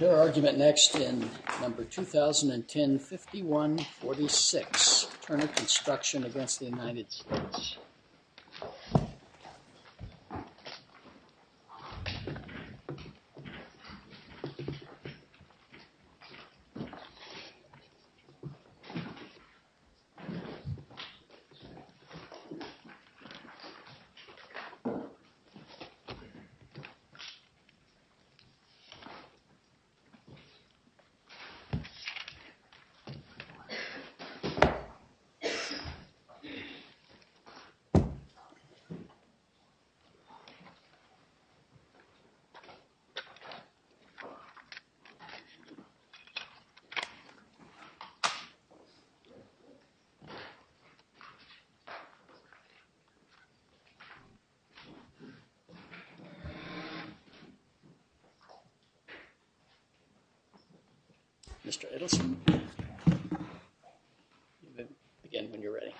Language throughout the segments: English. Your argument next in No. 2010-51-46, Turner Construction v. United States. TURNER CONSTRUCTION v. United States. Mr. Edelstein. Again, when you're ready.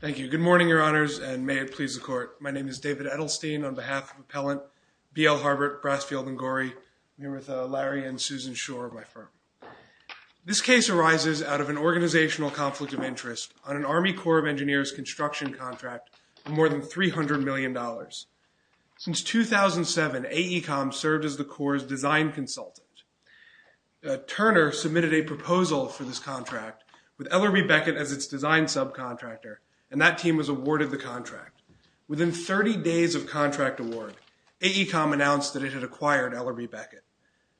Thank you. Good morning, Your Honors, and may it please the Court. My name is David Edelstein on behalf of Appellant BL Harbert, Brassfield & Gorey. I'm here with Larry and Susan Schor of my firm. This case arises out of an organizational conflict of interest. On an Army Corps of Engineers construction contract of more than $300 million. Since 2007, AECOM served as the Corps' design consultant. Turner submitted a proposal for this contract with Ellerbe Beckett as its design subcontractor, and that team was awarded the contract. Within 30 days of contract award, AECOM announced that it had acquired Ellerbe Beckett.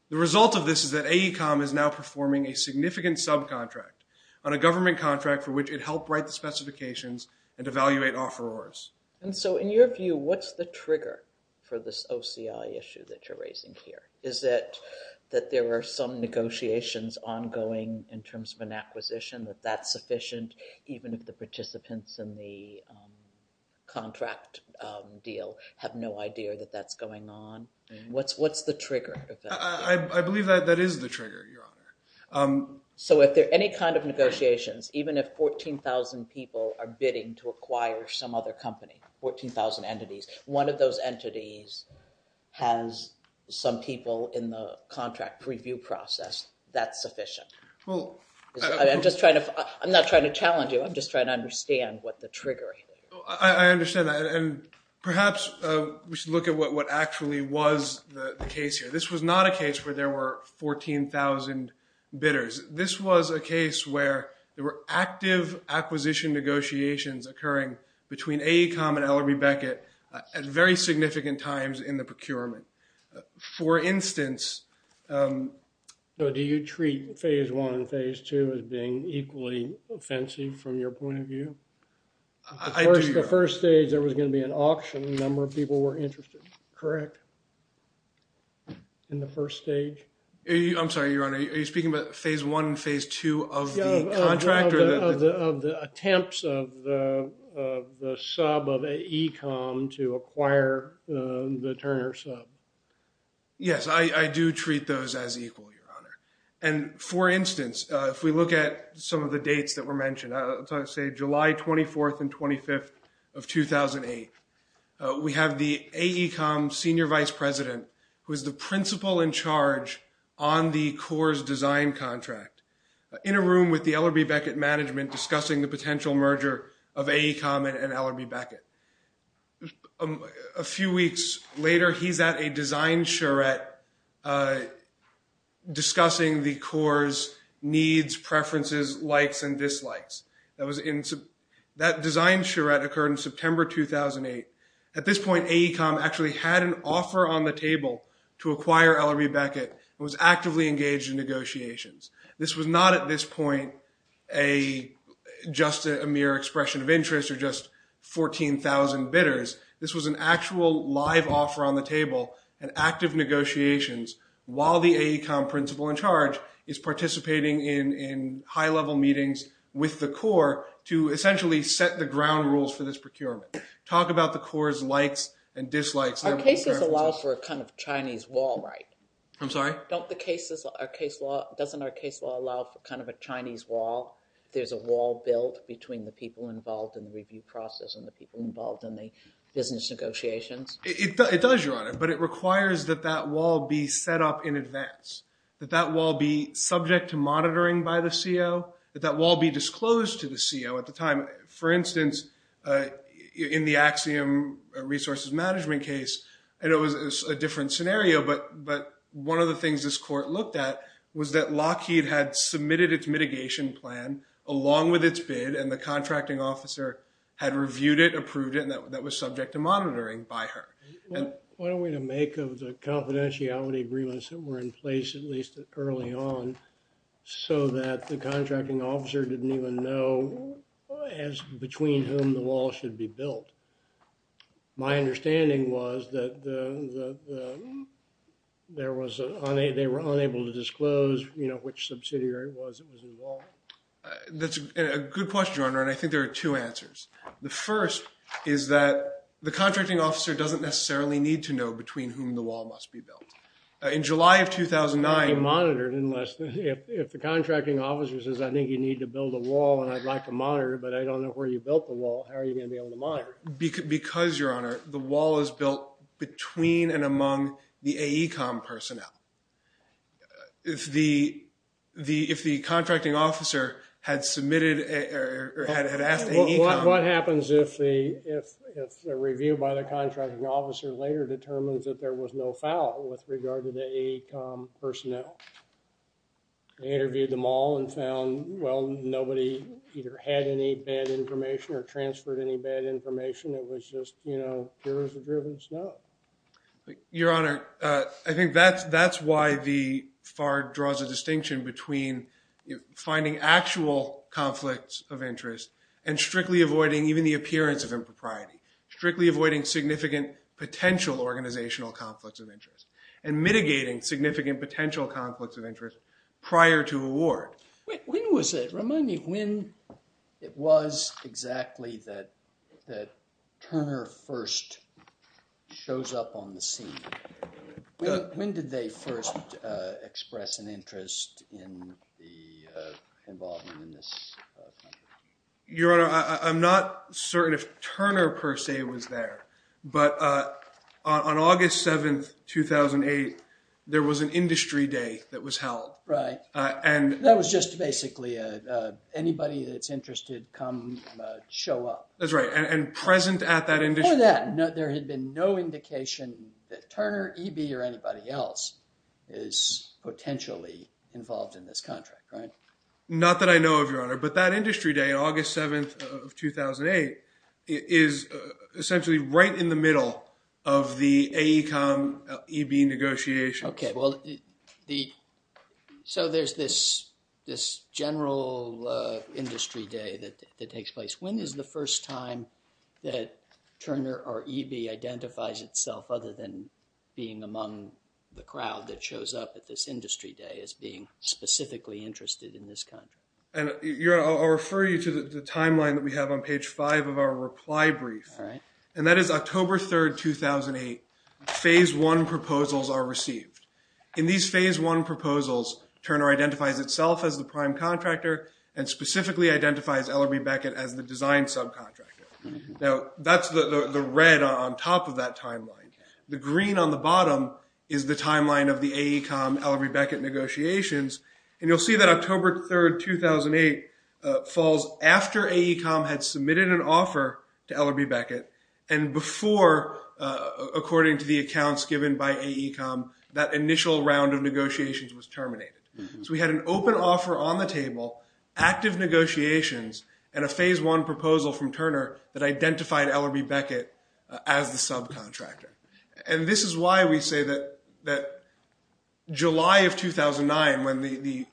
The result of this is that AECOM is now performing a significant subcontract on a government contract for which it helped write the specifications and evaluate offerors. And so in your view, what's the trigger for this OCI issue that you're raising here? Is it that there are some negotiations ongoing in terms of an acquisition that that's sufficient, even if the participants in the contract deal have no idea that that's going on? What's the trigger? I believe that that is the trigger, Your Honor. So if there are any kind of negotiations, even if 14,000 people are bidding to acquire some other company, 14,000 entities, one of those entities has some people in the contract review process that's sufficient. I'm not trying to challenge you. I'm just trying to understand what the trigger is. I understand that, and perhaps we should look at what actually was the case here. This was not a case where there were 14,000 bidders. This was a case where there were active acquisition negotiations occurring between AECOM and Ellerbe Beckett at very significant times in the procurement. For instance – So do you treat Phase I and Phase II as being equally offensive from your point of view? I do, Your Honor. The first stage, there was going to be an auction. A number of people were interested, correct, in the first stage? I'm sorry, Your Honor. Are you speaking about Phase I and Phase II of the contract? Yeah, of the attempts of the sub of AECOM to acquire the Turner sub. Yes, I do treat those as equal, Your Honor. July 24th and 25th of 2008, we have the AECOM senior vice president, who is the principal in charge on the CORS design contract, in a room with the Ellerbe Beckett management discussing the potential merger of AECOM and Ellerbe Beckett. A few weeks later, he's at a design charrette discussing the CORS needs, preferences, likes, and dislikes. That design charrette occurred in September 2008. At this point, AECOM actually had an offer on the table to acquire Ellerbe Beckett and was actively engaged in negotiations. This was not at this point just a mere expression of interest or just 14,000 bidders. This was an actual live offer on the table and active negotiations, while the AECOM principal in charge is participating in high-level meetings with the CORS to essentially set the ground rules for this procurement. Talk about the CORS likes and dislikes. Our cases allow for a kind of Chinese wall, right? I'm sorry? Doesn't our case law allow for kind of a Chinese wall? There's a wall built between the people involved in the review process and the people involved in the business negotiations? It does, Your Honor, but it requires that that wall be set up in advance, that that wall be subject to monitoring by the CO, that that wall be disclosed to the CO at the time. For instance, in the Axiom resources management case, and it was a different scenario, but one of the things this court looked at was that Lockheed had submitted its mitigation plan along with its bid and the contracting officer had reviewed it, approved it, and that was subject to monitoring by her. What are we to make of the confidentiality agreements that were in place at least early on so that the contracting officer didn't even know between whom the wall should be built? My understanding was that they were unable to disclose, you know, which subsidiary it was that was involved. That's a good question, Your Honor, and I think there are two answers. The first is that the contracting officer doesn't necessarily need to know between whom the wall must be built. In July of 2009— It can't be monitored unless—if the contracting officer says, I think you need to build a wall and I'd like to monitor it, but I don't know where you built the wall, how are you going to be able to monitor it? Because, Your Honor, the wall is built between and among the AECOM personnel. If the contracting officer had submitted or had asked AECOM— What happens if the review by the contracting officer later determines that there was no foul with regard to the AECOM personnel? They interviewed them all and found, well, nobody either had any bad information or transferred any bad information. It was just, you know, pure as a driven snow. Your Honor, I think that's why the FAR draws a distinction between finding actual conflicts of interest and strictly avoiding even the appearance of impropriety, strictly avoiding significant potential organizational conflicts of interest, and mitigating significant potential conflicts of interest prior to award. When was it? Remind me when it was exactly that Turner first shows up on the scene? When did they first express an interest in the involvement in this? Your Honor, I'm not certain if Turner per se was there, but on August 7th, 2008, there was an industry day that was held. Right. That was just basically anybody that's interested come show up. That's right. And present at that industry— Before that, there had been no indication that Turner, EB, or anybody else is potentially involved in this contract, right? Not that I know of, Your Honor, but that industry day, August 7th of 2008, is essentially right in the middle of the AECOM-EB negotiations. Okay. So there's this general industry day that takes place. When is the first time that Turner or EB identifies itself, other than being among the crowd that shows up at this industry day, as being specifically interested in this contract? Your Honor, I'll refer you to the timeline that we have on page 5 of our reply brief. All right. And that is October 3rd, 2008. Phase I proposals are received. In these Phase I proposals, Turner identifies itself as the prime contractor and specifically identifies LRB Beckett as the design subcontractor. Now, that's the red on top of that timeline. The green on the bottom is the timeline of the AECOM-LRB Beckett negotiations, and you'll see that October 3rd, 2008 falls after AECOM had submitted an offer to LRB Beckett and before, according to the accounts given by AECOM, that initial round of negotiations was terminated. So we had an open offer on the table, active negotiations, and a Phase I proposal from Turner that identified LRB Beckett as the subcontractor. And this is why we say that July of 2009, when the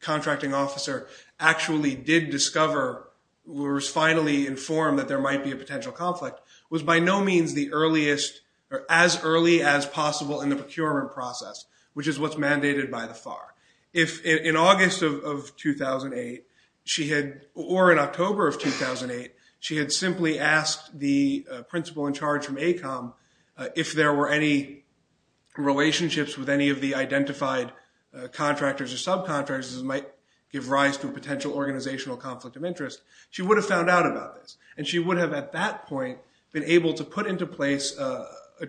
contracting officer actually did discover or was finally informed that there might be a potential conflict, was by no means the earliest or as early as possible in the procurement process, which is what's mandated by the FAR. In August of 2008, or in October of 2008, she had simply asked the principal in charge from AECOM if there were any relationships with any of the identified contractors or subcontractors that might give rise to a potential organizational conflict of interest. She would have found out about this, and she would have, at that point, been able to put into place a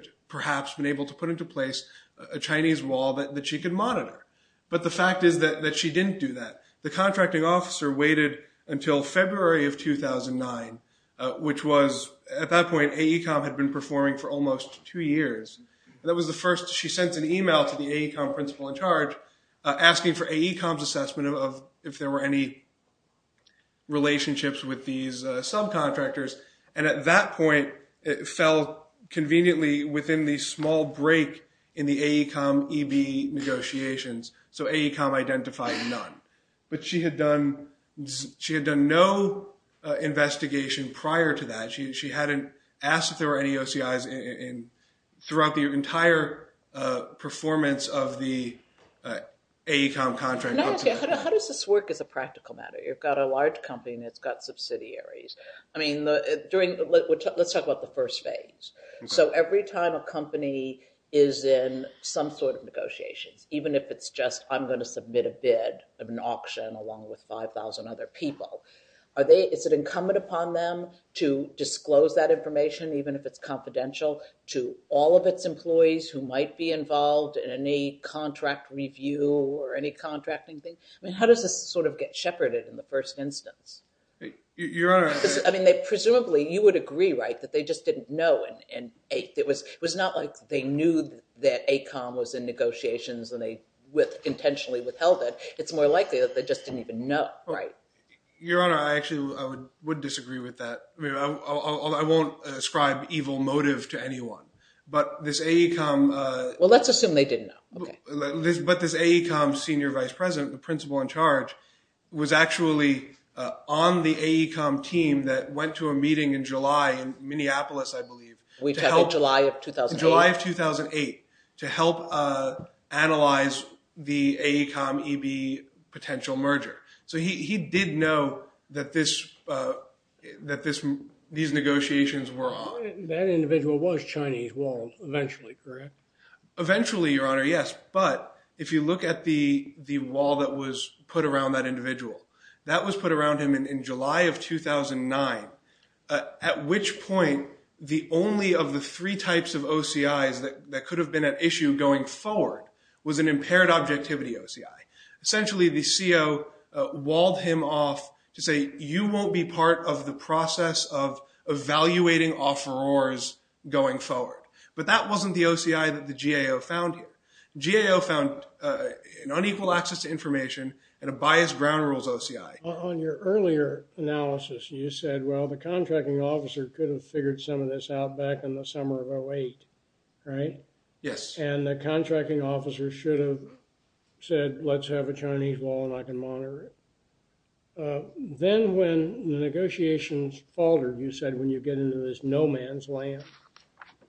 Chinese wall that she could monitor. But the fact is that she didn't do that. The contracting officer waited until February of 2009, which was, at that point, AECOM had been performing for almost two years. That was the first she sent an email to the AECOM principal in charge asking for AECOM's assessment of if there were any relationships with these subcontractors. And at that point, it fell conveniently within the small break in the AECOM EB negotiations. So AECOM identified none. But she had done no investigation prior to that. She hadn't asked if there were any OCIs throughout the entire performance of the AECOM contract. How does this work as a practical matter? You've got a large company, and it's got subsidiaries. I mean, let's talk about the first phase. So every time a company is in some sort of negotiations, even if it's just, I'm going to submit a bid of an auction along with 5,000 other people, is it incumbent upon them to disclose that information, even if it's confidential, to all of its employees who might be involved in any contract review or any contracting thing? I mean, how does this sort of get shepherded in the first instance? I mean, presumably you would agree, right, that they just didn't know. It was not like they knew that AECOM was in negotiations and they intentionally withheld it. It's more likely that they just didn't even know, right? Your Honor, I actually would disagree with that. I mean, I won't ascribe evil motive to anyone, but this AECOM— Well, let's assume they didn't know. But this AECOM senior vice president, the principal in charge, was actually on the AECOM team that went to a meeting in July in Minneapolis, I believe. July of 2008? July of 2008 to help analyze the AECOM-EB potential merger. So he did know that these negotiations were on. That individual was Chinese Wall eventually, correct? Eventually, Your Honor, yes. But if you look at the wall that was put around that individual, that was put around him in July of 2009, at which point the only of the three types of OCIs that could have been at issue going forward was an impaired objectivity OCI. Essentially, the CO walled him off to say, you won't be part of the process of evaluating offerors going forward. But that wasn't the OCI that the GAO found. GAO found an unequal access to information and a biased ground rules OCI. On your earlier analysis, you said, well, the contracting officer could have figured some of this out back in the summer of 2008, right? Yes. And the contracting officer should have said, let's have a Chinese wall and I can monitor it. Then when the negotiations faltered, you said, when you get into this no man's land,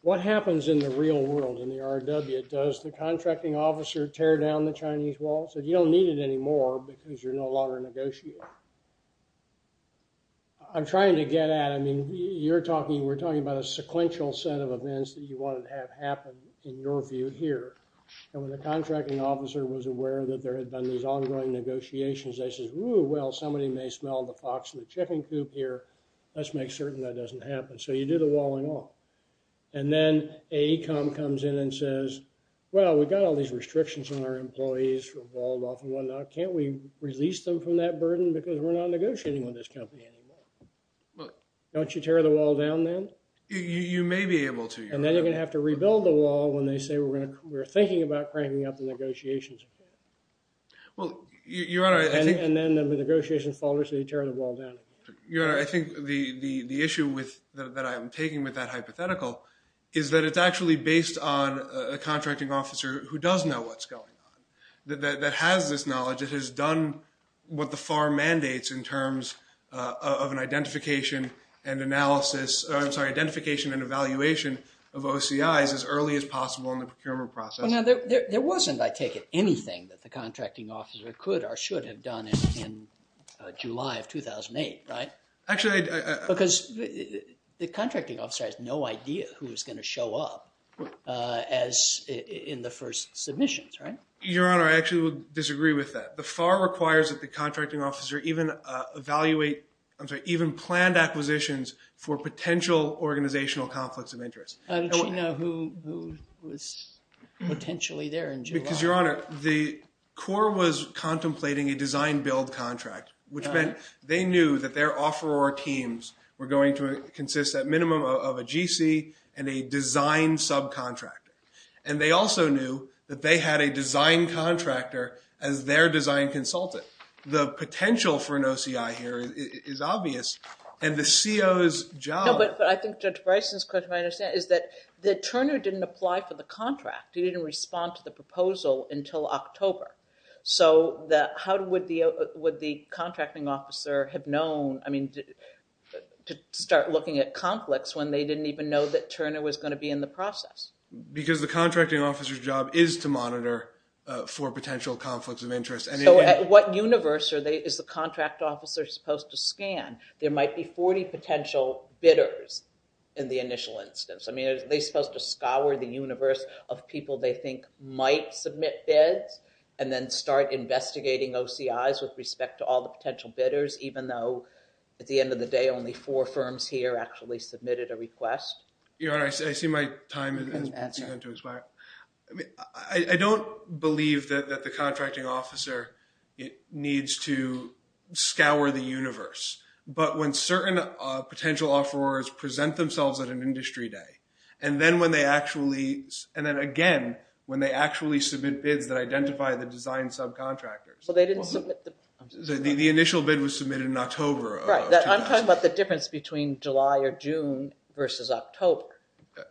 what happens in the real world in the RW? Does the contracting officer tear down the Chinese wall? So you don't need it anymore because you're no longer negotiating. I'm trying to get at, I mean, you're talking, we're talking about a sequential set of events that you wanted to have happen in your view here. And when the contracting officer was aware that there had been these ongoing negotiations, they said, ooh, well, somebody may smell the fox in the chicken coop here. Let's make certain that doesn't happen. So you do the walling off. And then AECOM comes in and says, well, we've got all these restrictions on our employees for walled off and whatnot. Can't we release them from that burden? Because we're not negotiating with this company anymore. Don't you tear the wall down then? You may be able to. And then you're going to have to rebuild the wall when they say we're going to, we're thinking about cranking up the negotiations. Well, Your Honor, I think. And then the negotiations falter, so you tear the wall down. Your Honor, I think the issue that I'm taking with that hypothetical is that it's actually based on a contracting officer who does know what's going on, that has this knowledge, that has done what the FAR mandates in terms of an identification and analysis, I'm sorry, identification and evaluation of OCIs as early as possible in the procurement process. There wasn't, I take it, anything that the contracting officer could or should have done in July of 2008, right? Because the contracting officer has no idea who is going to show up as in the first submissions, right? Your Honor, I actually would disagree with that. The FAR requires that the contracting officer even evaluate, I'm sorry, even planned acquisitions for potential organizational conflicts of interest. I don't know who was potentially there in July. Because, Your Honor, the Corps was contemplating a design-build contract, which meant they knew that their offeror teams were going to consist at minimum of a GC and a design subcontractor. And they also knew that they had a design contractor as their design consultant. The potential for an OCI here is obvious, and the CO's job. No, but I think Judge Bryson's question I understand is that Turner didn't apply for the contract. He didn't respond to the proposal until October. So how would the contracting officer have known to start looking at conflicts when they didn't even know that Turner was going to be in the process? Because the contracting officer's job is to monitor for potential conflicts of interest. There might be 40 potential bidders in the initial instance. I mean, are they supposed to scour the universe of people they think might submit bids and then start investigating OCI's with respect to all the potential bidders, even though at the end of the day only four firms here actually submitted a request? Your Honor, I see my time has begun to expire. I don't believe that the contracting officer needs to scour the universe. But when certain potential offerors present themselves at an industry day, and then again when they actually submit bids that identify the design subcontractors. The initial bid was submitted in October. I'm talking about the difference between July or June versus October,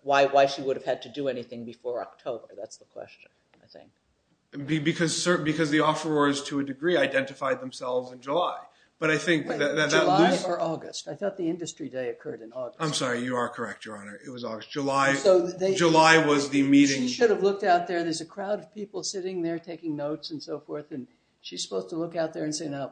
why she would have had to do anything before October. That's the question, I think. Because the offerors to a degree identified themselves in July. July or August? I thought the industry day occurred in August. I'm sorry. You are correct, Your Honor. It was August. July was the meeting. She should have looked out there. There's a crowd of people sitting there taking notes and so forth. She's supposed to look out there and say, Now,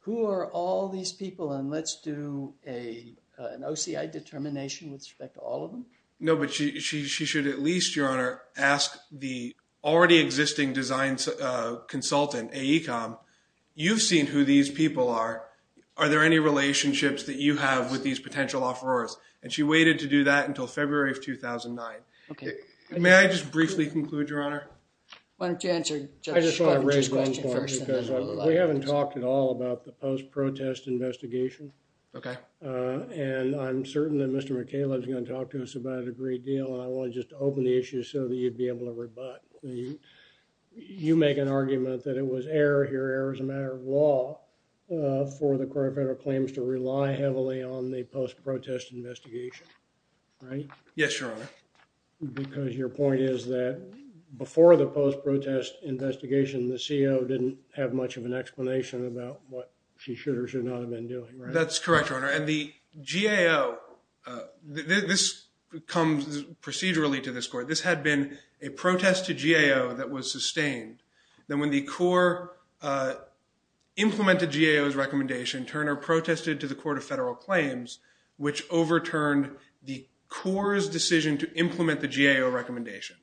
who are all these people and let's do an OCI determination with respect to all of them? No, but she should at least, Your Honor, ask the already existing design consultant, AECOM, you've seen who these people are. Are there any relationships that you have with these potential offerors? And she waited to do that until February of 2009. May I just briefly conclude, Your Honor? Why don't you answer Judge Sparvich's question first? Because we haven't talked at all about the post-protest investigation. Okay. And I'm certain that Mr. McCaleb is going to talk to us about it a great deal and I want to just open the issue so that you'd be able to rebut. You make an argument that it was error. Your error is a matter of law for the court of federal claims to rely heavily on the post-protest investigation. Right? Yes, Your Honor. Because your point is that before the post-protest investigation, the CO didn't have much of an explanation about what she should or should not have been doing. That's correct, Your Honor. And the GAO, this comes procedurally to this court. This had been a protest to GAO that was sustained. Then when the court implemented GAO's recommendation, Turner protested to the court of federal claims which overturned the CO's decision to implement the GAO recommendation.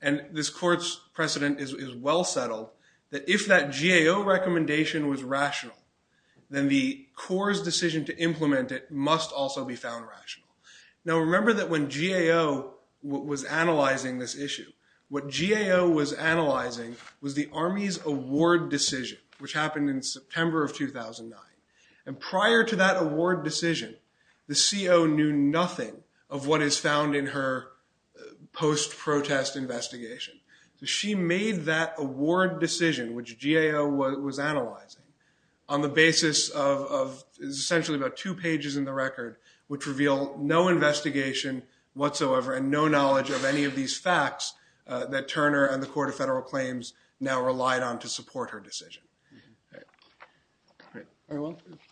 And this court's precedent is well settled that if that GAO recommendation was rational, then the CO's decision to implement it must also be found rational. Now remember that when GAO was analyzing this issue, what GAO was analyzing was the Army's award decision which happened in September of 2009. And prior to that award decision, the CO knew nothing of what is found in her post-protest investigation. She made that award decision which GAO was analyzing on the basis of essentially about two pages in the record which reveal no investigation whatsoever and no knowledge of any of these facts that Turner and the court of federal claims now relied on to support her decision.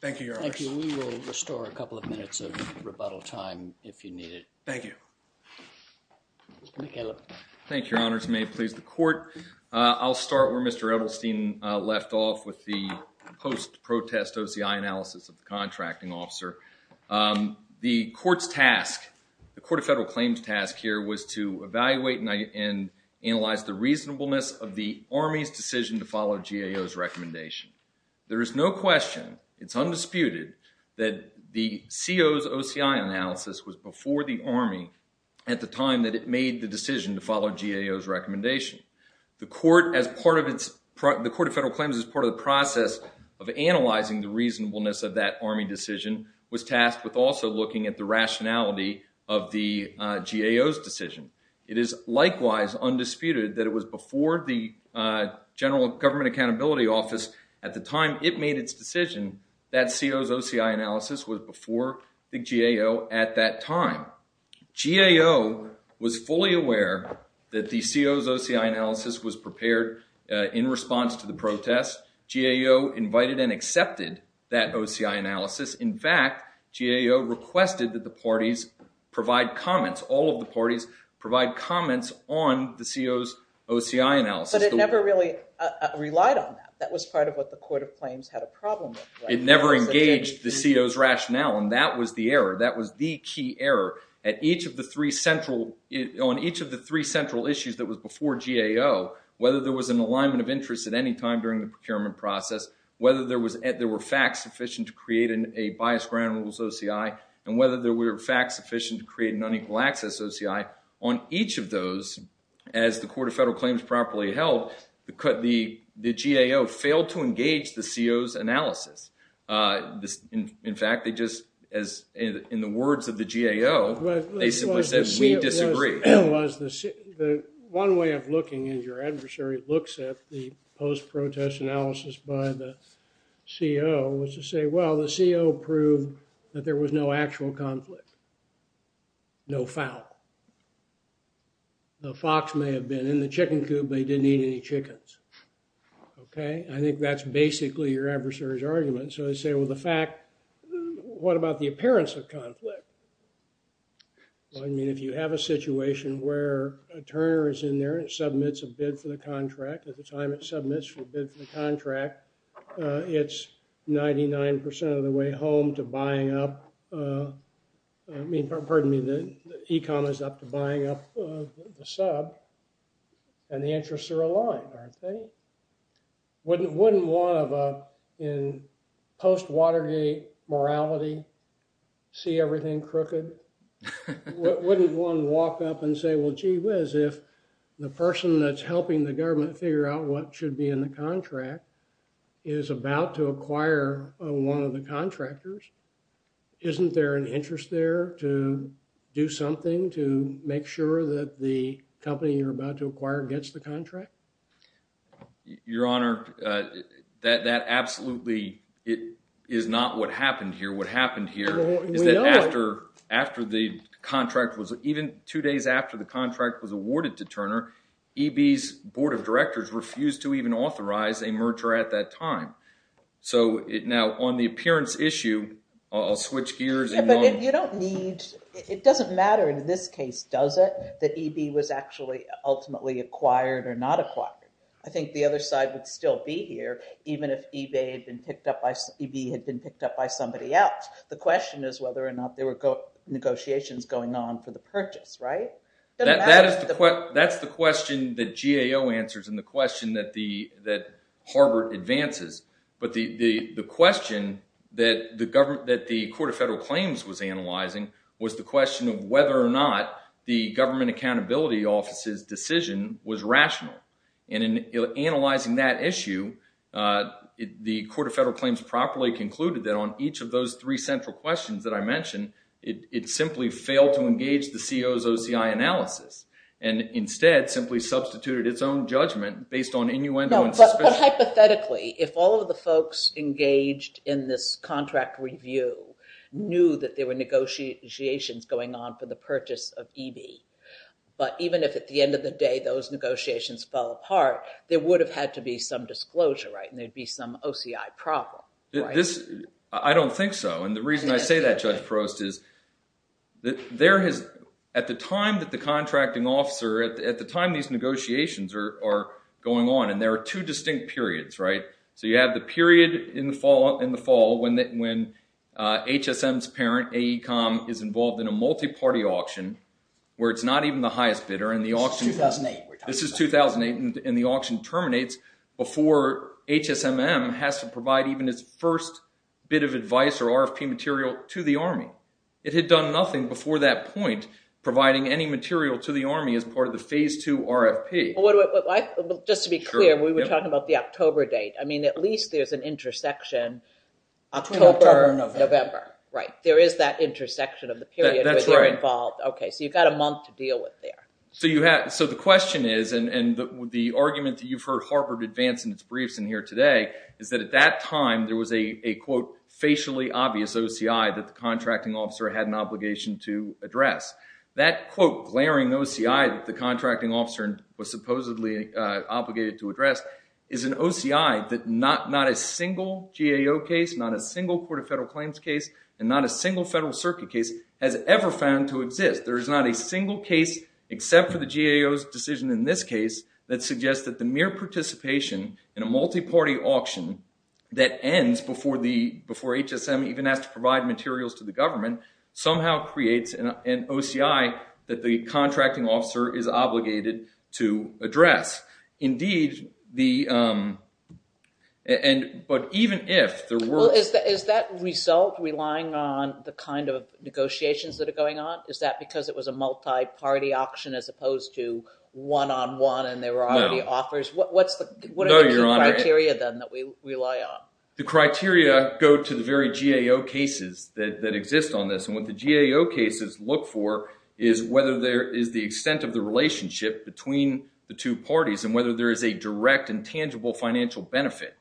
Thank you, Your Honor. Thank you. We will restore a couple of minutes of rebuttal time if you need it. Thank you. Thank you, Your Honors. May it please the court. I'll start where Mr. Edelstein left off with the post-protest OCI analysis of the contracting officer. The court's task, the court of federal claims task here was to evaluate and analyze the reasonableness of the Army's decision to follow GAO's recommendation. There is no question, it's undisputed that the CO's OCI analysis was before the Army at the time that it made the decision to follow GAO's recommendation. The court of federal claims as part of the process of analyzing the reasonableness of that Army decision was tasked with also looking at the rationality of the GAO's decision. It is likewise undisputed that it was before the general government accountability office at the time it made its decision that CO's OCI analysis was before the GAO at that time. GAO was fully aware that the CO's OCI analysis was prepared in response to the protest. GAO invited and accepted that OCI analysis. In fact, GAO requested that the parties provide comments, all of the parties provide comments on the CO's OCI analysis. But it never really relied on that. That was part of what the court of claims had a problem with. It never engaged the CO's rationale and that was the error. On each of the three central issues that was before GAO, whether there was an alignment of interest at any time during the procurement process, whether there were facts sufficient to create a bias ground rules OCI, and whether there were facts sufficient to create an unequal access OCI, on each of those, as the court of federal claims properly held, the GAO failed to engage the CO's analysis. In fact, they just, as in the words of the GAO, they simply said, we disagree. The one way of looking at your adversary looks at the post-protest analysis by the CO was to say, well, the CO proved that there was no actual conflict. No foul. The fox may have been in the chicken coop, but he didn't eat any chickens. Okay, I think that's basically your adversary's argument. So they say, well, the fact, what about the appearance of conflict? Well, I mean, if you have a situation where a turner is in there and submits a bid for the contract, at the time it submits the bid for the contract, it's 99% of the way home to buying up, I mean, pardon me, the e-com is up to buying up the sub, and the interests are aligned, aren't they? Wouldn't one of, in post-Watergate morality, see everything crooked? Wouldn't one walk up and say, well, gee whiz, if the person that's helping the government figure out what should be in the contract is about to acquire one of the contractors, isn't there an interest there to do something to make sure that the company you're about to acquire gets the contract? Your Honor, that absolutely is not what happened here. What happened here is that after the contract was, even two days after the contract was awarded to Turner, EB's board of directors refused to even authorize a merger at that time. So, now, on the appearance issue, I'll switch gears. Yeah, but you don't need, it doesn't matter in this case, does it, that EB was actually ultimately acquired or not acquired. I think the other side would still be here, even if EB had been picked up by somebody else. The question is whether or not there were negotiations going on for the purchase, right? That's the question that GAO answers and the question that Harvard advances. But the question that the Court of Federal Claims was analyzing was the question of whether or not the Government Accountability Office's decision was rational. And in analyzing that issue, the Court of Federal Claims properly concluded that on each of those three central questions that I mentioned, it simply failed to engage the CO's OCI analysis and instead simply substituted its own judgment based on innuendo and suspicion. No, but hypothetically, if all of the folks engaged in this contract review knew that there were negotiations going on for the purchase of EB, but even if at the end of the day those negotiations fell apart, there would have had to be some disclosure, right, and there'd be some OCI problem. I don't think so. And the reason I say that, Judge Prost, is at the time that the contracting officer, at the time these negotiations are going on, and there are two distinct periods, right? So you have the period in the fall when HSM's parent, AECOM, is involved in a multi-party auction where it's not even the highest bidder. This is 2008. This is 2008, and the auction terminates before HSMM has to provide even its first bit of advice or RFP material to the Army. It had done nothing before that point providing any material to the Army as part of the Phase II RFP. Just to be clear, we were talking about the October date. I mean, at least there's an intersection. October, November. Right. There is that intersection of the period where they're involved. That's right. Okay, so you've got a month to deal with there. So the question is, and the argument that you've heard harbored advance in its briefs in here today, is that at that time there was a, quote, facially obvious OCI that the contracting officer had an obligation to address. That, quote, glaring OCI that the contracting officer was supposedly obligated to address is an OCI that not a single GAO case, not a single Court of Federal Claims case, and not a single Federal Circuit case has ever found to exist. There is not a single case, except for the GAO's decision in this case, that suggests that the mere participation in a multi-party auction that ends before HSM even has to provide materials to the government, somehow creates an OCI that the contracting officer is obligated to address. Indeed, the – but even if there were – Well, is that result relying on the kind of negotiations that are going on? Is that because it was a multi-party auction as opposed to one-on-one and there were already offers? No. What's the criteria then that we rely on? The criteria go to the very GAO cases that exist on this. And what the GAO cases look for is whether there is the extent of the relationship between the two parties and whether there is a direct and tangible financial benefit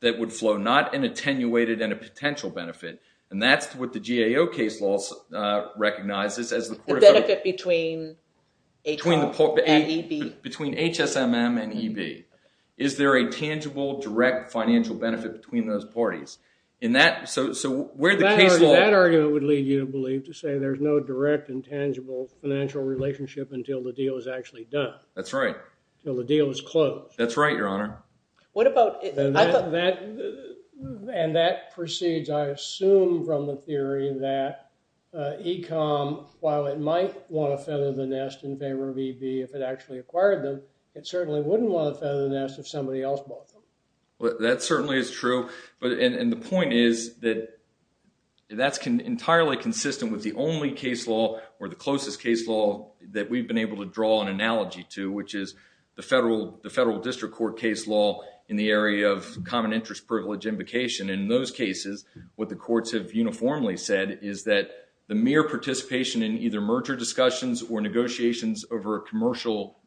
that would flow, not an attenuated and a potential benefit. And that's what the GAO case law recognizes as the – The benefit between HSM and EB. Between HSM and EB. Is there a tangible direct financial benefit between those parties? In that – so where the case law – That argument would lead you to believe to say there's no direct and tangible financial relationship until the deal is actually done. That's right. Until the deal is closed. That's right, Your Honor. What about – And that proceeds, I assume, from the theory that ECOM, while it might want to feather the nest in favor of EB if it actually acquired them, it certainly wouldn't want to feather the nest if somebody else bought them. That certainly is true. And the point is that that's entirely consistent with the only case law or the closest case law that we've been able to draw an analogy to, which is the federal district court case law in the area of common interest privilege invocation. And in those cases, what the courts have uniformly said is that the mere participation in either merger discussions or negotiations over a commercial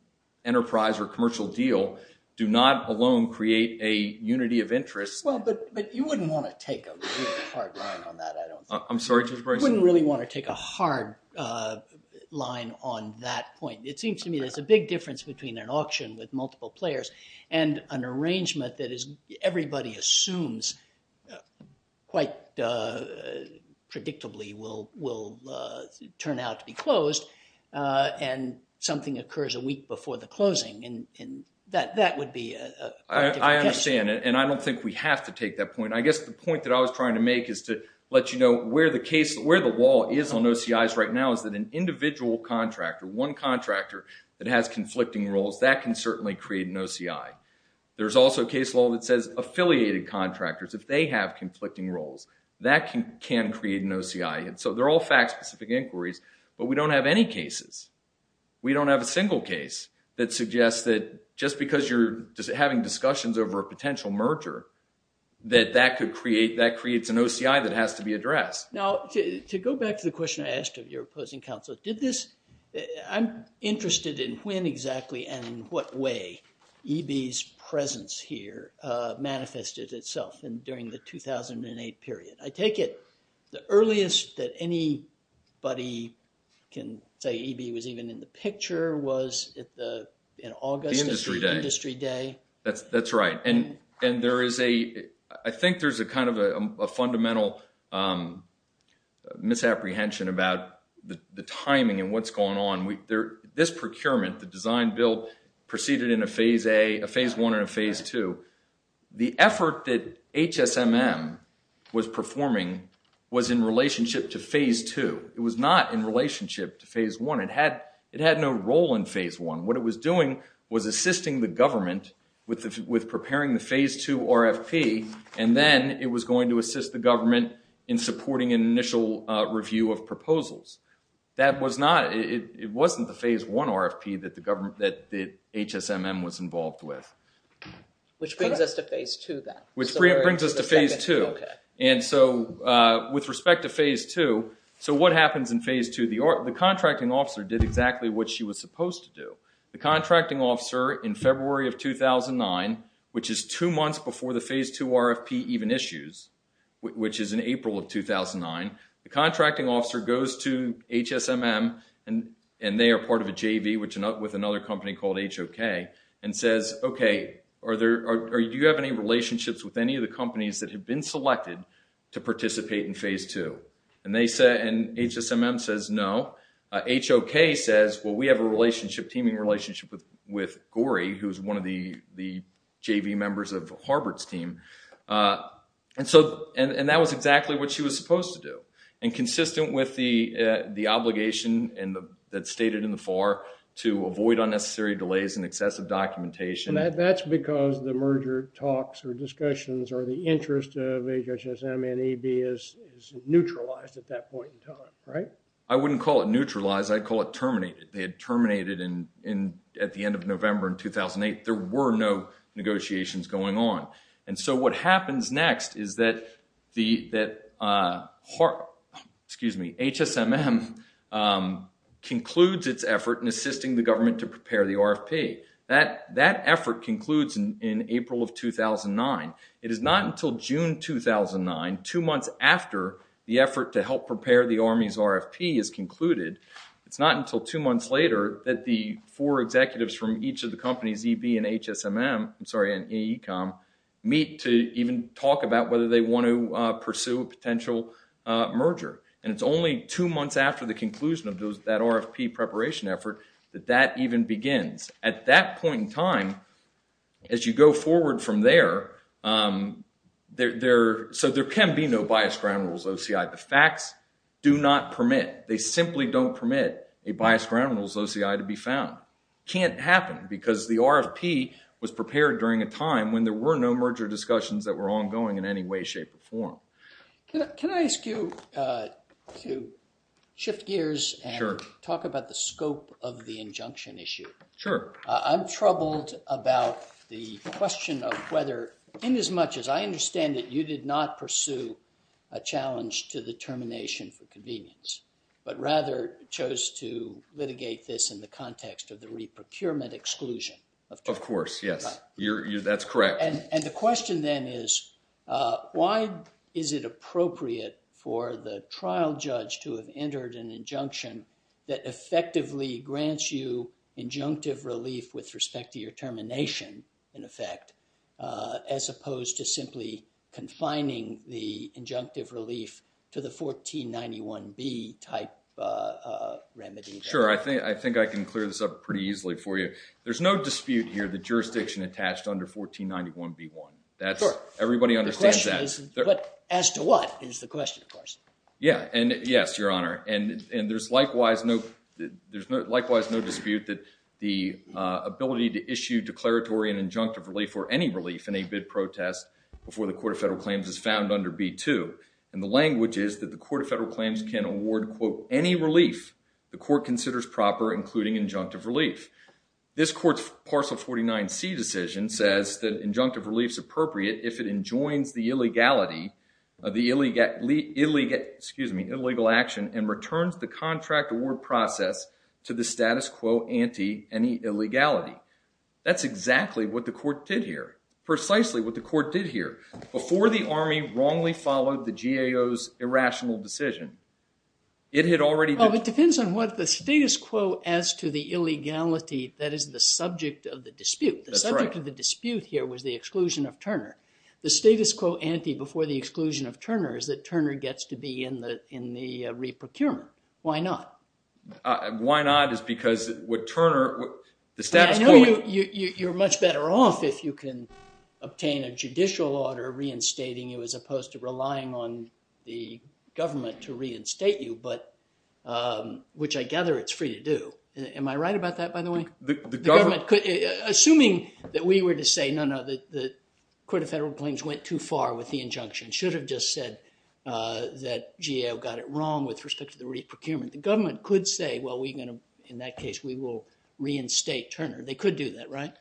enterprise or commercial deal do not alone create a unity of interest. Well, but you wouldn't want to take a really hard line on that, I don't think. I'm sorry, Judge Bryson? You wouldn't really want to take a hard line on that point. It seems to me there's a big difference between an auction with multiple players and an arrangement that everybody assumes quite predictably will turn out to be closed and something occurs a week before the closing, and that would be a different case. I understand, and I don't think we have to take that point. I guess the point that I was trying to make is to let you know where the case – one contractor that has conflicting roles, that can certainly create an OCI. There's also a case law that says affiliated contractors, if they have conflicting roles, that can create an OCI. And so they're all fact-specific inquiries, but we don't have any cases. We don't have a single case that suggests that just because you're having discussions over a potential merger, that that could create – that creates an OCI that has to be addressed. Now, to go back to the question I asked of your opposing counsel, did this – I'm interested in when exactly and in what way EB's presence here manifested itself during the 2008 period. I take it the earliest that anybody can say EB was even in the picture was in August? The industry day. Industry day. That's right. And there is a – I think there's a kind of a fundamental misapprehension about the timing and what's going on. This procurement, the design bill, proceeded in a phase A, a phase I, and a phase II. The effort that HSMM was performing was in relationship to phase II. It was not in relationship to phase I. It had no role in phase I. What it was doing was assisting the government with preparing the phase II RFP, and then it was going to assist the government in supporting an initial review of proposals. That was not – it wasn't the phase I RFP that the government – that HSMM was involved with. Which brings us to phase II then. Which brings us to phase II. Okay. And so with respect to phase II, so what happens in phase II? The contracting officer did exactly what she was supposed to do. The contracting officer in February of 2009, which is two months before the phase II RFP even issues, which is in April of 2009, the contracting officer goes to HSMM, and they are part of a JV with another company called HOK, and says, okay, do you have any relationships with any of the companies that have been selected to participate in phase II? And they say – and HSMM says no. HOK says, well, we have a relationship, teaming relationship with GORI, who is one of the JV members of Harvard's team. And so – and that was exactly what she was supposed to do. And consistent with the obligation that's stated in the FAR to avoid unnecessary delays and excessive documentation. That's because the merger talks or discussions or the interest of HSMM and EB is neutralized at that point in time, right? I wouldn't call it neutralized. I'd call it terminated. They had terminated at the end of November in 2008. There were no negotiations going on. And so what happens next is that the – excuse me, HSMM concludes its effort in assisting the government to prepare the RFP. That effort concludes in April of 2009. It is not until June 2009, two months after the effort to help prepare the Army's RFP is concluded, it's not until two months later that the four executives from each of the companies, EB and HSMM – I'm sorry, and AECOM meet to even talk about whether they want to pursue a potential merger. And it's only two months after the conclusion of that RFP preparation effort that that even begins. At that point in time, as you go forward from there, there – so there can be no biased ground rules OCI. The facts do not permit. They simply don't permit a biased ground rules OCI to be found. It can't happen because the RFP was prepared during a time when there were no merger discussions that were ongoing in any way, shape, or form. Can I ask you to shift gears and talk about the scope of the injunction issue? Sure. I'm troubled about the question of whether, inasmuch as I understand it, you did not pursue a challenge to the termination for convenience, but rather chose to litigate this in the context of the re-procurement exclusion. Of course, yes. That's correct. And the question, then, is why is it appropriate for the trial judge to have entered an injunction that effectively grants you injunctive relief with respect to your termination, in effect, as opposed to simply confining the injunctive relief to the 1491B type remedy? Sure. I think I can clear this up pretty easily for you. There's no dispute here that jurisdiction attached under 1491B1. Sure. Everybody understands that. But as to what is the question, of course. Yeah. And yes, Your Honor. And there's likewise no dispute that the ability to issue declaratory and injunctive relief or any relief in a bid protest before the Court of Federal Claims is found under B2. And the language is that the Court of Federal Claims can award, quote, any relief the court considers proper, including injunctive relief. This Court's Parcel 49C decision says that injunctive relief is appropriate if it enjoins the illegality of the illegal action and returns the contract award process to the status quo anti any illegality. That's exactly what the court did here. Precisely what the court did here. Before the Army wrongly followed the GAO's irrational decision, it had already been. Well, it depends on what the status quo as to the illegality that is the subject of the dispute. That's right. The subject of the dispute here was the exclusion of Turner. The status quo anti before the exclusion of Turner is that Turner gets to be in the re-procurement. Why not? Why not is because would Turner – the status quo – I know you're much better off if you can obtain a judicial order reinstating you as opposed to relying on the government to reinstate you, which I gather it's free to do. Am I right about that, by the way? Assuming that we were to say, no, no, the Court of Federal Claims went too far with the injunction, should have just said that GAO got it wrong with respect to the re-procurement. The government could say, well, we're going to – in that case, we will reinstate Turner. They could do that, right?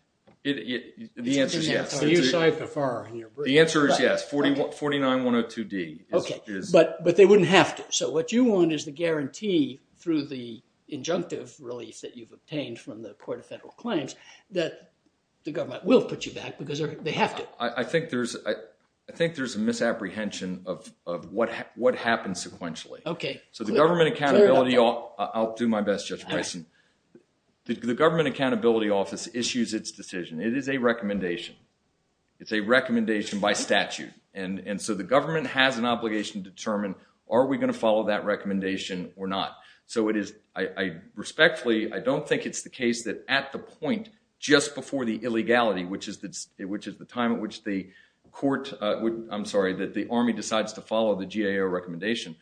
The answer is yes. The answer is yes, 49102D. Okay, but they wouldn't have to. So what you want is the guarantee through the injunctive release that you've obtained from the Court of Federal Claims that the government will put you back because they have to. I think there's a misapprehension of what happens sequentially. Okay. So the government accountability – I'll do my best, Judge Bison. The government accountability office issues its decision. It is a recommendation. It's a recommendation by statute. And so the government has an obligation to determine are we going to follow that recommendation or not. So it is – respectfully, I don't think it's the case that at the point just before the illegality, which is the time at which the court – I'm sorry, that the Army decides to follow the GAO recommendation.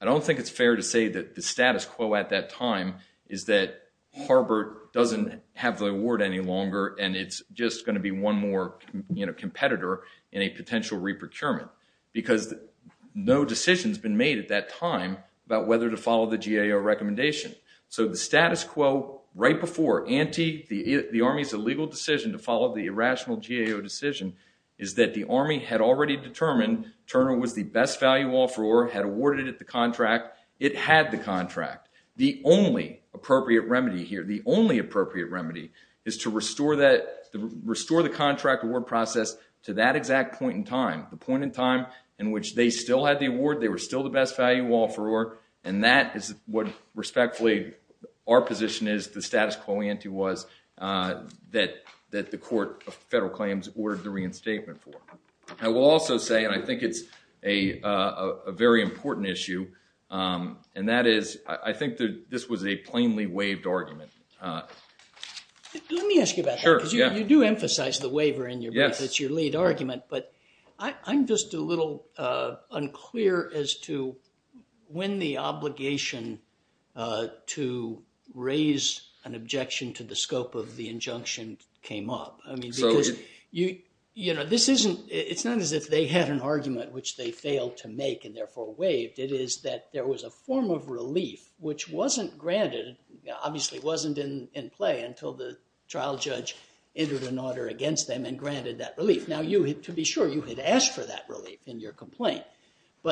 I don't think it's fair to say that the status quo at that time is that Harvard doesn't have the award any longer and it's just going to be one more competitor in a potential re-procurement because no decision has been made at that time about whether to follow the GAO recommendation. So the status quo right before the Army's illegal decision to follow the irrational GAO decision is that the Army had already determined Turner was the best value offeror, had awarded it the contract. It had the contract. The only appropriate remedy here, the only appropriate remedy is to restore the contract award process to that exact point in time, the point in time in which they still had the award, they were still the best value offeror, and that is what respectfully our position is, the status quo ante was, that the court of federal claims ordered the reinstatement for. I will also say, and I think it's a very important issue, and that is, I think this was a plainly waived argument. Let me ask you about that because you do emphasize the waiver in your brief, it's your lead argument, but I'm just a little unclear as to when the obligation to raise an objection to the scope of the injunction came up. You know, this isn't, it's not as if they had an argument which they failed to make and therefore waived. It is that there was a form of relief which wasn't granted, obviously wasn't in play until the trial judge entered an order against them and granted that relief. Now you, to be sure, you had asked for that relief in your complaint.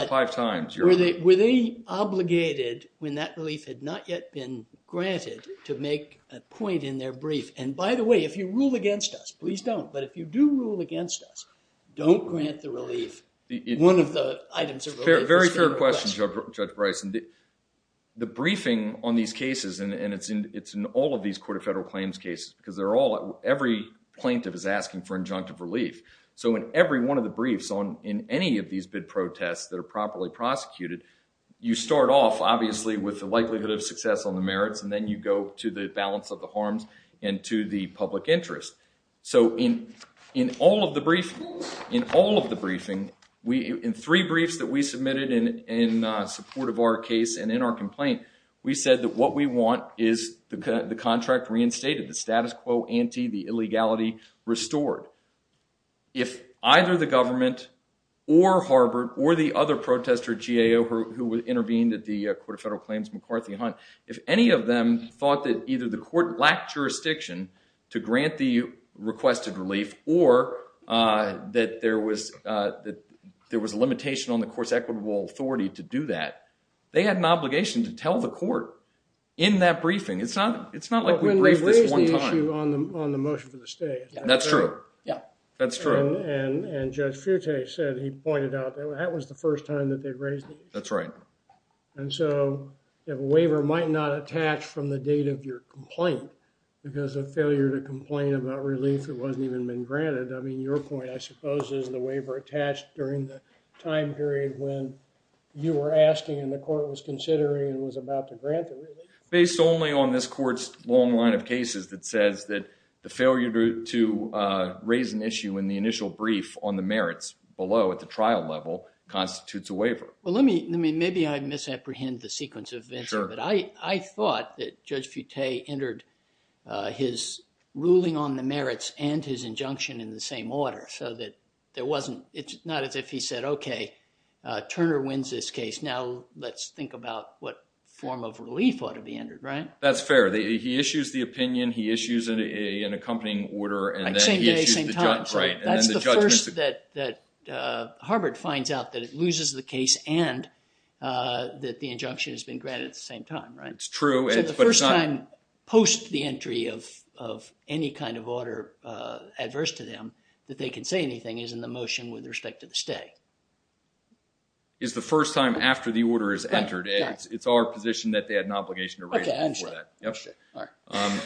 Five times your relief. Were they obligated when that relief had not yet been granted to make a point in their brief? And by the way, if you rule against us, please don't. But if you do rule against us, don't grant the relief, one of the items of relief. Very fair question, Judge Bryson. The briefing on these cases, and it's in all of these court of federal claims cases, because they're all, every plaintiff is asking for injunctive relief. So in every one of the briefs in any of these bid protests that are properly prosecuted, you start off, obviously, with the likelihood of success on the merits, and then you go to the balance of the harms and to the public interest. So in all of the briefings, in three briefs that we submitted in support of our case and in our complaint, we said that what we want is the contract reinstated, the status quo ante, the illegality restored. If either the government or Harvard or the other protester, GAO, who intervened at the court of federal claims, McCarthy Hunt, if any of them thought that either the court lacked jurisdiction to grant the requested relief or that there was a limitation on the court's equitable authority to do that, they had an obligation to tell the court in that briefing. It's not like we briefed this one time. Well, we raised the issue on the motion for the stay. That's true. Yeah. That's true. And Judge Fute said he pointed out that that was the first time that they raised it. That's right. And so the waiver might not attach from the date of your complaint because of failure to complain about relief that wasn't even been granted. I mean, your point, I suppose, is the waiver attached during the time period when you were asking and the court was considering and was about to grant the relief. Based only on this court's long line of cases that says that the failure to raise an issue in the initial brief on the merits below at the trial level constitutes a waiver. Well, let me... maybe I misapprehend the sequence of events. Sure. But I thought that Judge Fute entered his ruling on the merits and his injunction in the same order so that there wasn't... it's not as if he said, okay, Turner wins this case. Now, let's think about what form of relief ought to be entered, right? That's fair. He issues the opinion. He issues an accompanying order. Same day, same time. Right. That's the first that Harvard finds out that it loses the case and that the injunction has been granted at the same time, right? It's true, but it's not... So the first time post the entry of any kind of order adverse to them that they can say anything is in the motion with respect to the stay. It's the first time after the order is entered. It's our position that they had an obligation to raise it before that. Okay, I understand.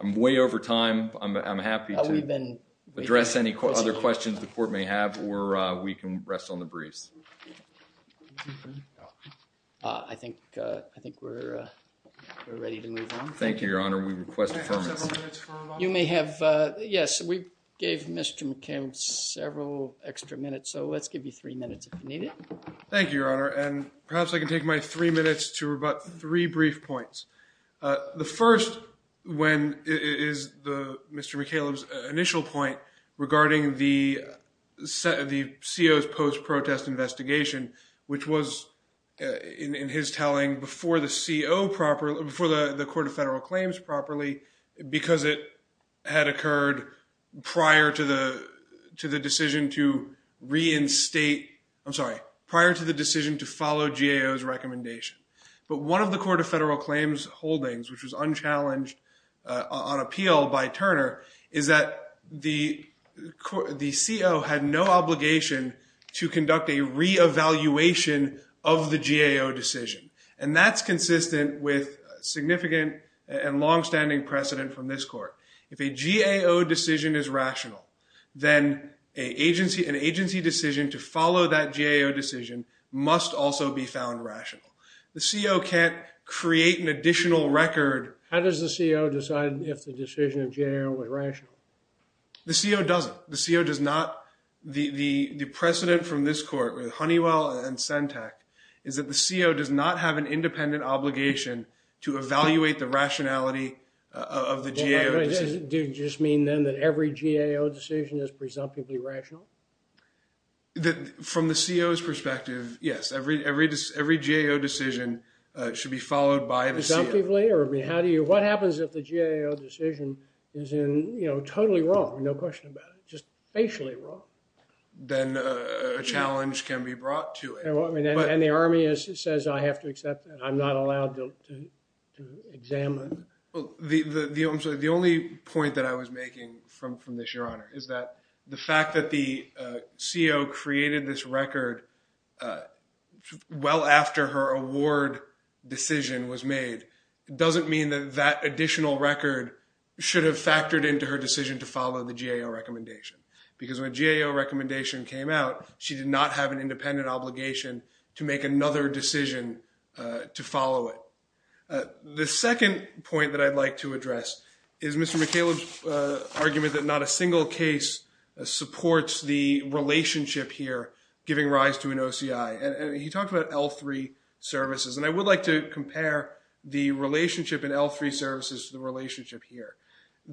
I'm way over time. I'm happy to address any other questions the court may have or we can rest on the briefs. I think we're ready to move on. Thank you, Your Honor. We request a permit. Can I have several minutes for a moment? You may have... Yes, we gave Mr. McKim several extra minutes, so let's give you three minutes if you need it. Thank you, Your Honor, and perhaps I can take my three minutes to rebut three brief points. The first is Mr. McCaleb's initial point regarding the CO's post-protest investigation, which was, in his telling, before the CO properly... before the Court of Federal Claims properly because it had occurred prior to the decision to reinstate... I'm sorry, prior to the decision to follow GAO's recommendation. But one of the Court of Federal Claims holdings, which was unchallenged on appeal by Turner, is that the CO had no obligation to conduct a reevaluation of the GAO decision, and that's consistent with significant and longstanding precedent from this court. If a GAO decision is rational, then an agency decision to follow that GAO decision must also be found rational. The CO can't create an additional record... How does the CO decide if the decision of GAO is rational? The CO doesn't. The CO does not... The precedent from this court with Honeywell and CENTAC is that the CO does not have an independent obligation to evaluate the rationality of the GAO decision. Does it just mean then that every GAO decision is presumptively rational? From the CO's perspective, yes. Every GAO decision should be followed by the CO. Presumptively? What happens if the GAO decision is totally wrong, no question about it, just facially wrong? Then a challenge can be brought to it. And the Army says, I have to accept that. I'm not allowed to examine. The only point that I was making from this, Your Honor, is that the fact that the CO created this record well after her award decision was made doesn't mean that that additional record should have factored into her decision to follow the GAO recommendation. Because when GAO recommendation came out, she did not have an independent obligation to make another decision to follow it. The second point that I'd like to address is Mr. McCaleb's argument that not a single case supports the relationship here giving rise to an OCI. He talked about L3 services. And I would like to compare the relationship in L3 services to the relationship here.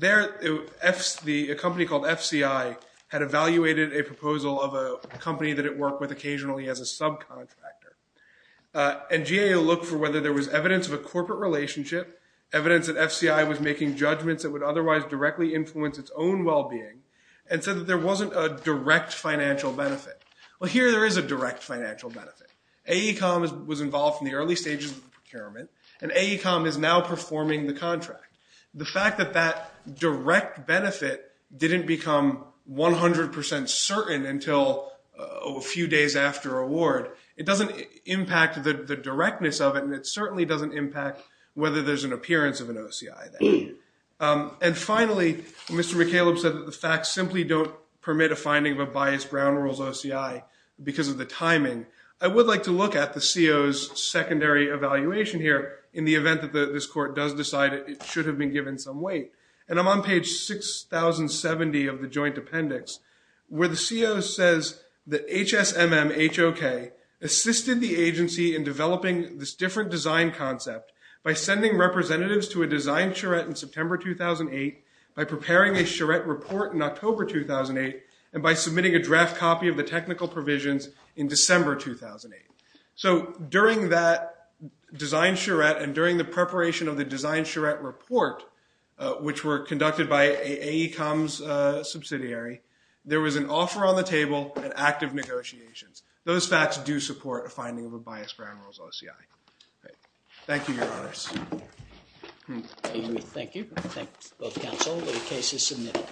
A company called FCI had evaluated a proposal of a company that it worked with occasionally as a subcontractor. And GAO looked for whether there was evidence of a corporate relationship, evidence that FCI was making judgments that would otherwise directly influence its own well-being, and said that there wasn't a direct financial benefit. Well, here there is a direct financial benefit. AECOM was involved in the early stages of the procurement, and AECOM is now performing the contract. The fact that that direct benefit didn't become 100% certain until a few days after award, it doesn't impact the directness of it, and it certainly doesn't impact whether there's an appearance of an OCI. And finally, Mr. McCaleb said that the facts simply don't permit a finding of a biased Brown rules OCI because of the timing. I would like to look at the CO's secondary evaluation here in the event that this court does decide it should have been given some weight. And I'm on page 6070 of the joint appendix where the CO says that HSMM HOK assisted the agency in developing this different design concept by sending representatives to a design charrette in September 2008, by preparing a charrette report in October 2008, and by submitting a draft copy of the technical provisions in December 2008. So during that design charrette and during the preparation of the design charrette report, which were conducted by AECOM's subsidiary, there was an offer on the table and active negotiations. Those facts do support a finding of a biased Brown rules OCI. Thank you, Your Honors. Thank you. Thank both counsel. The case is submitted.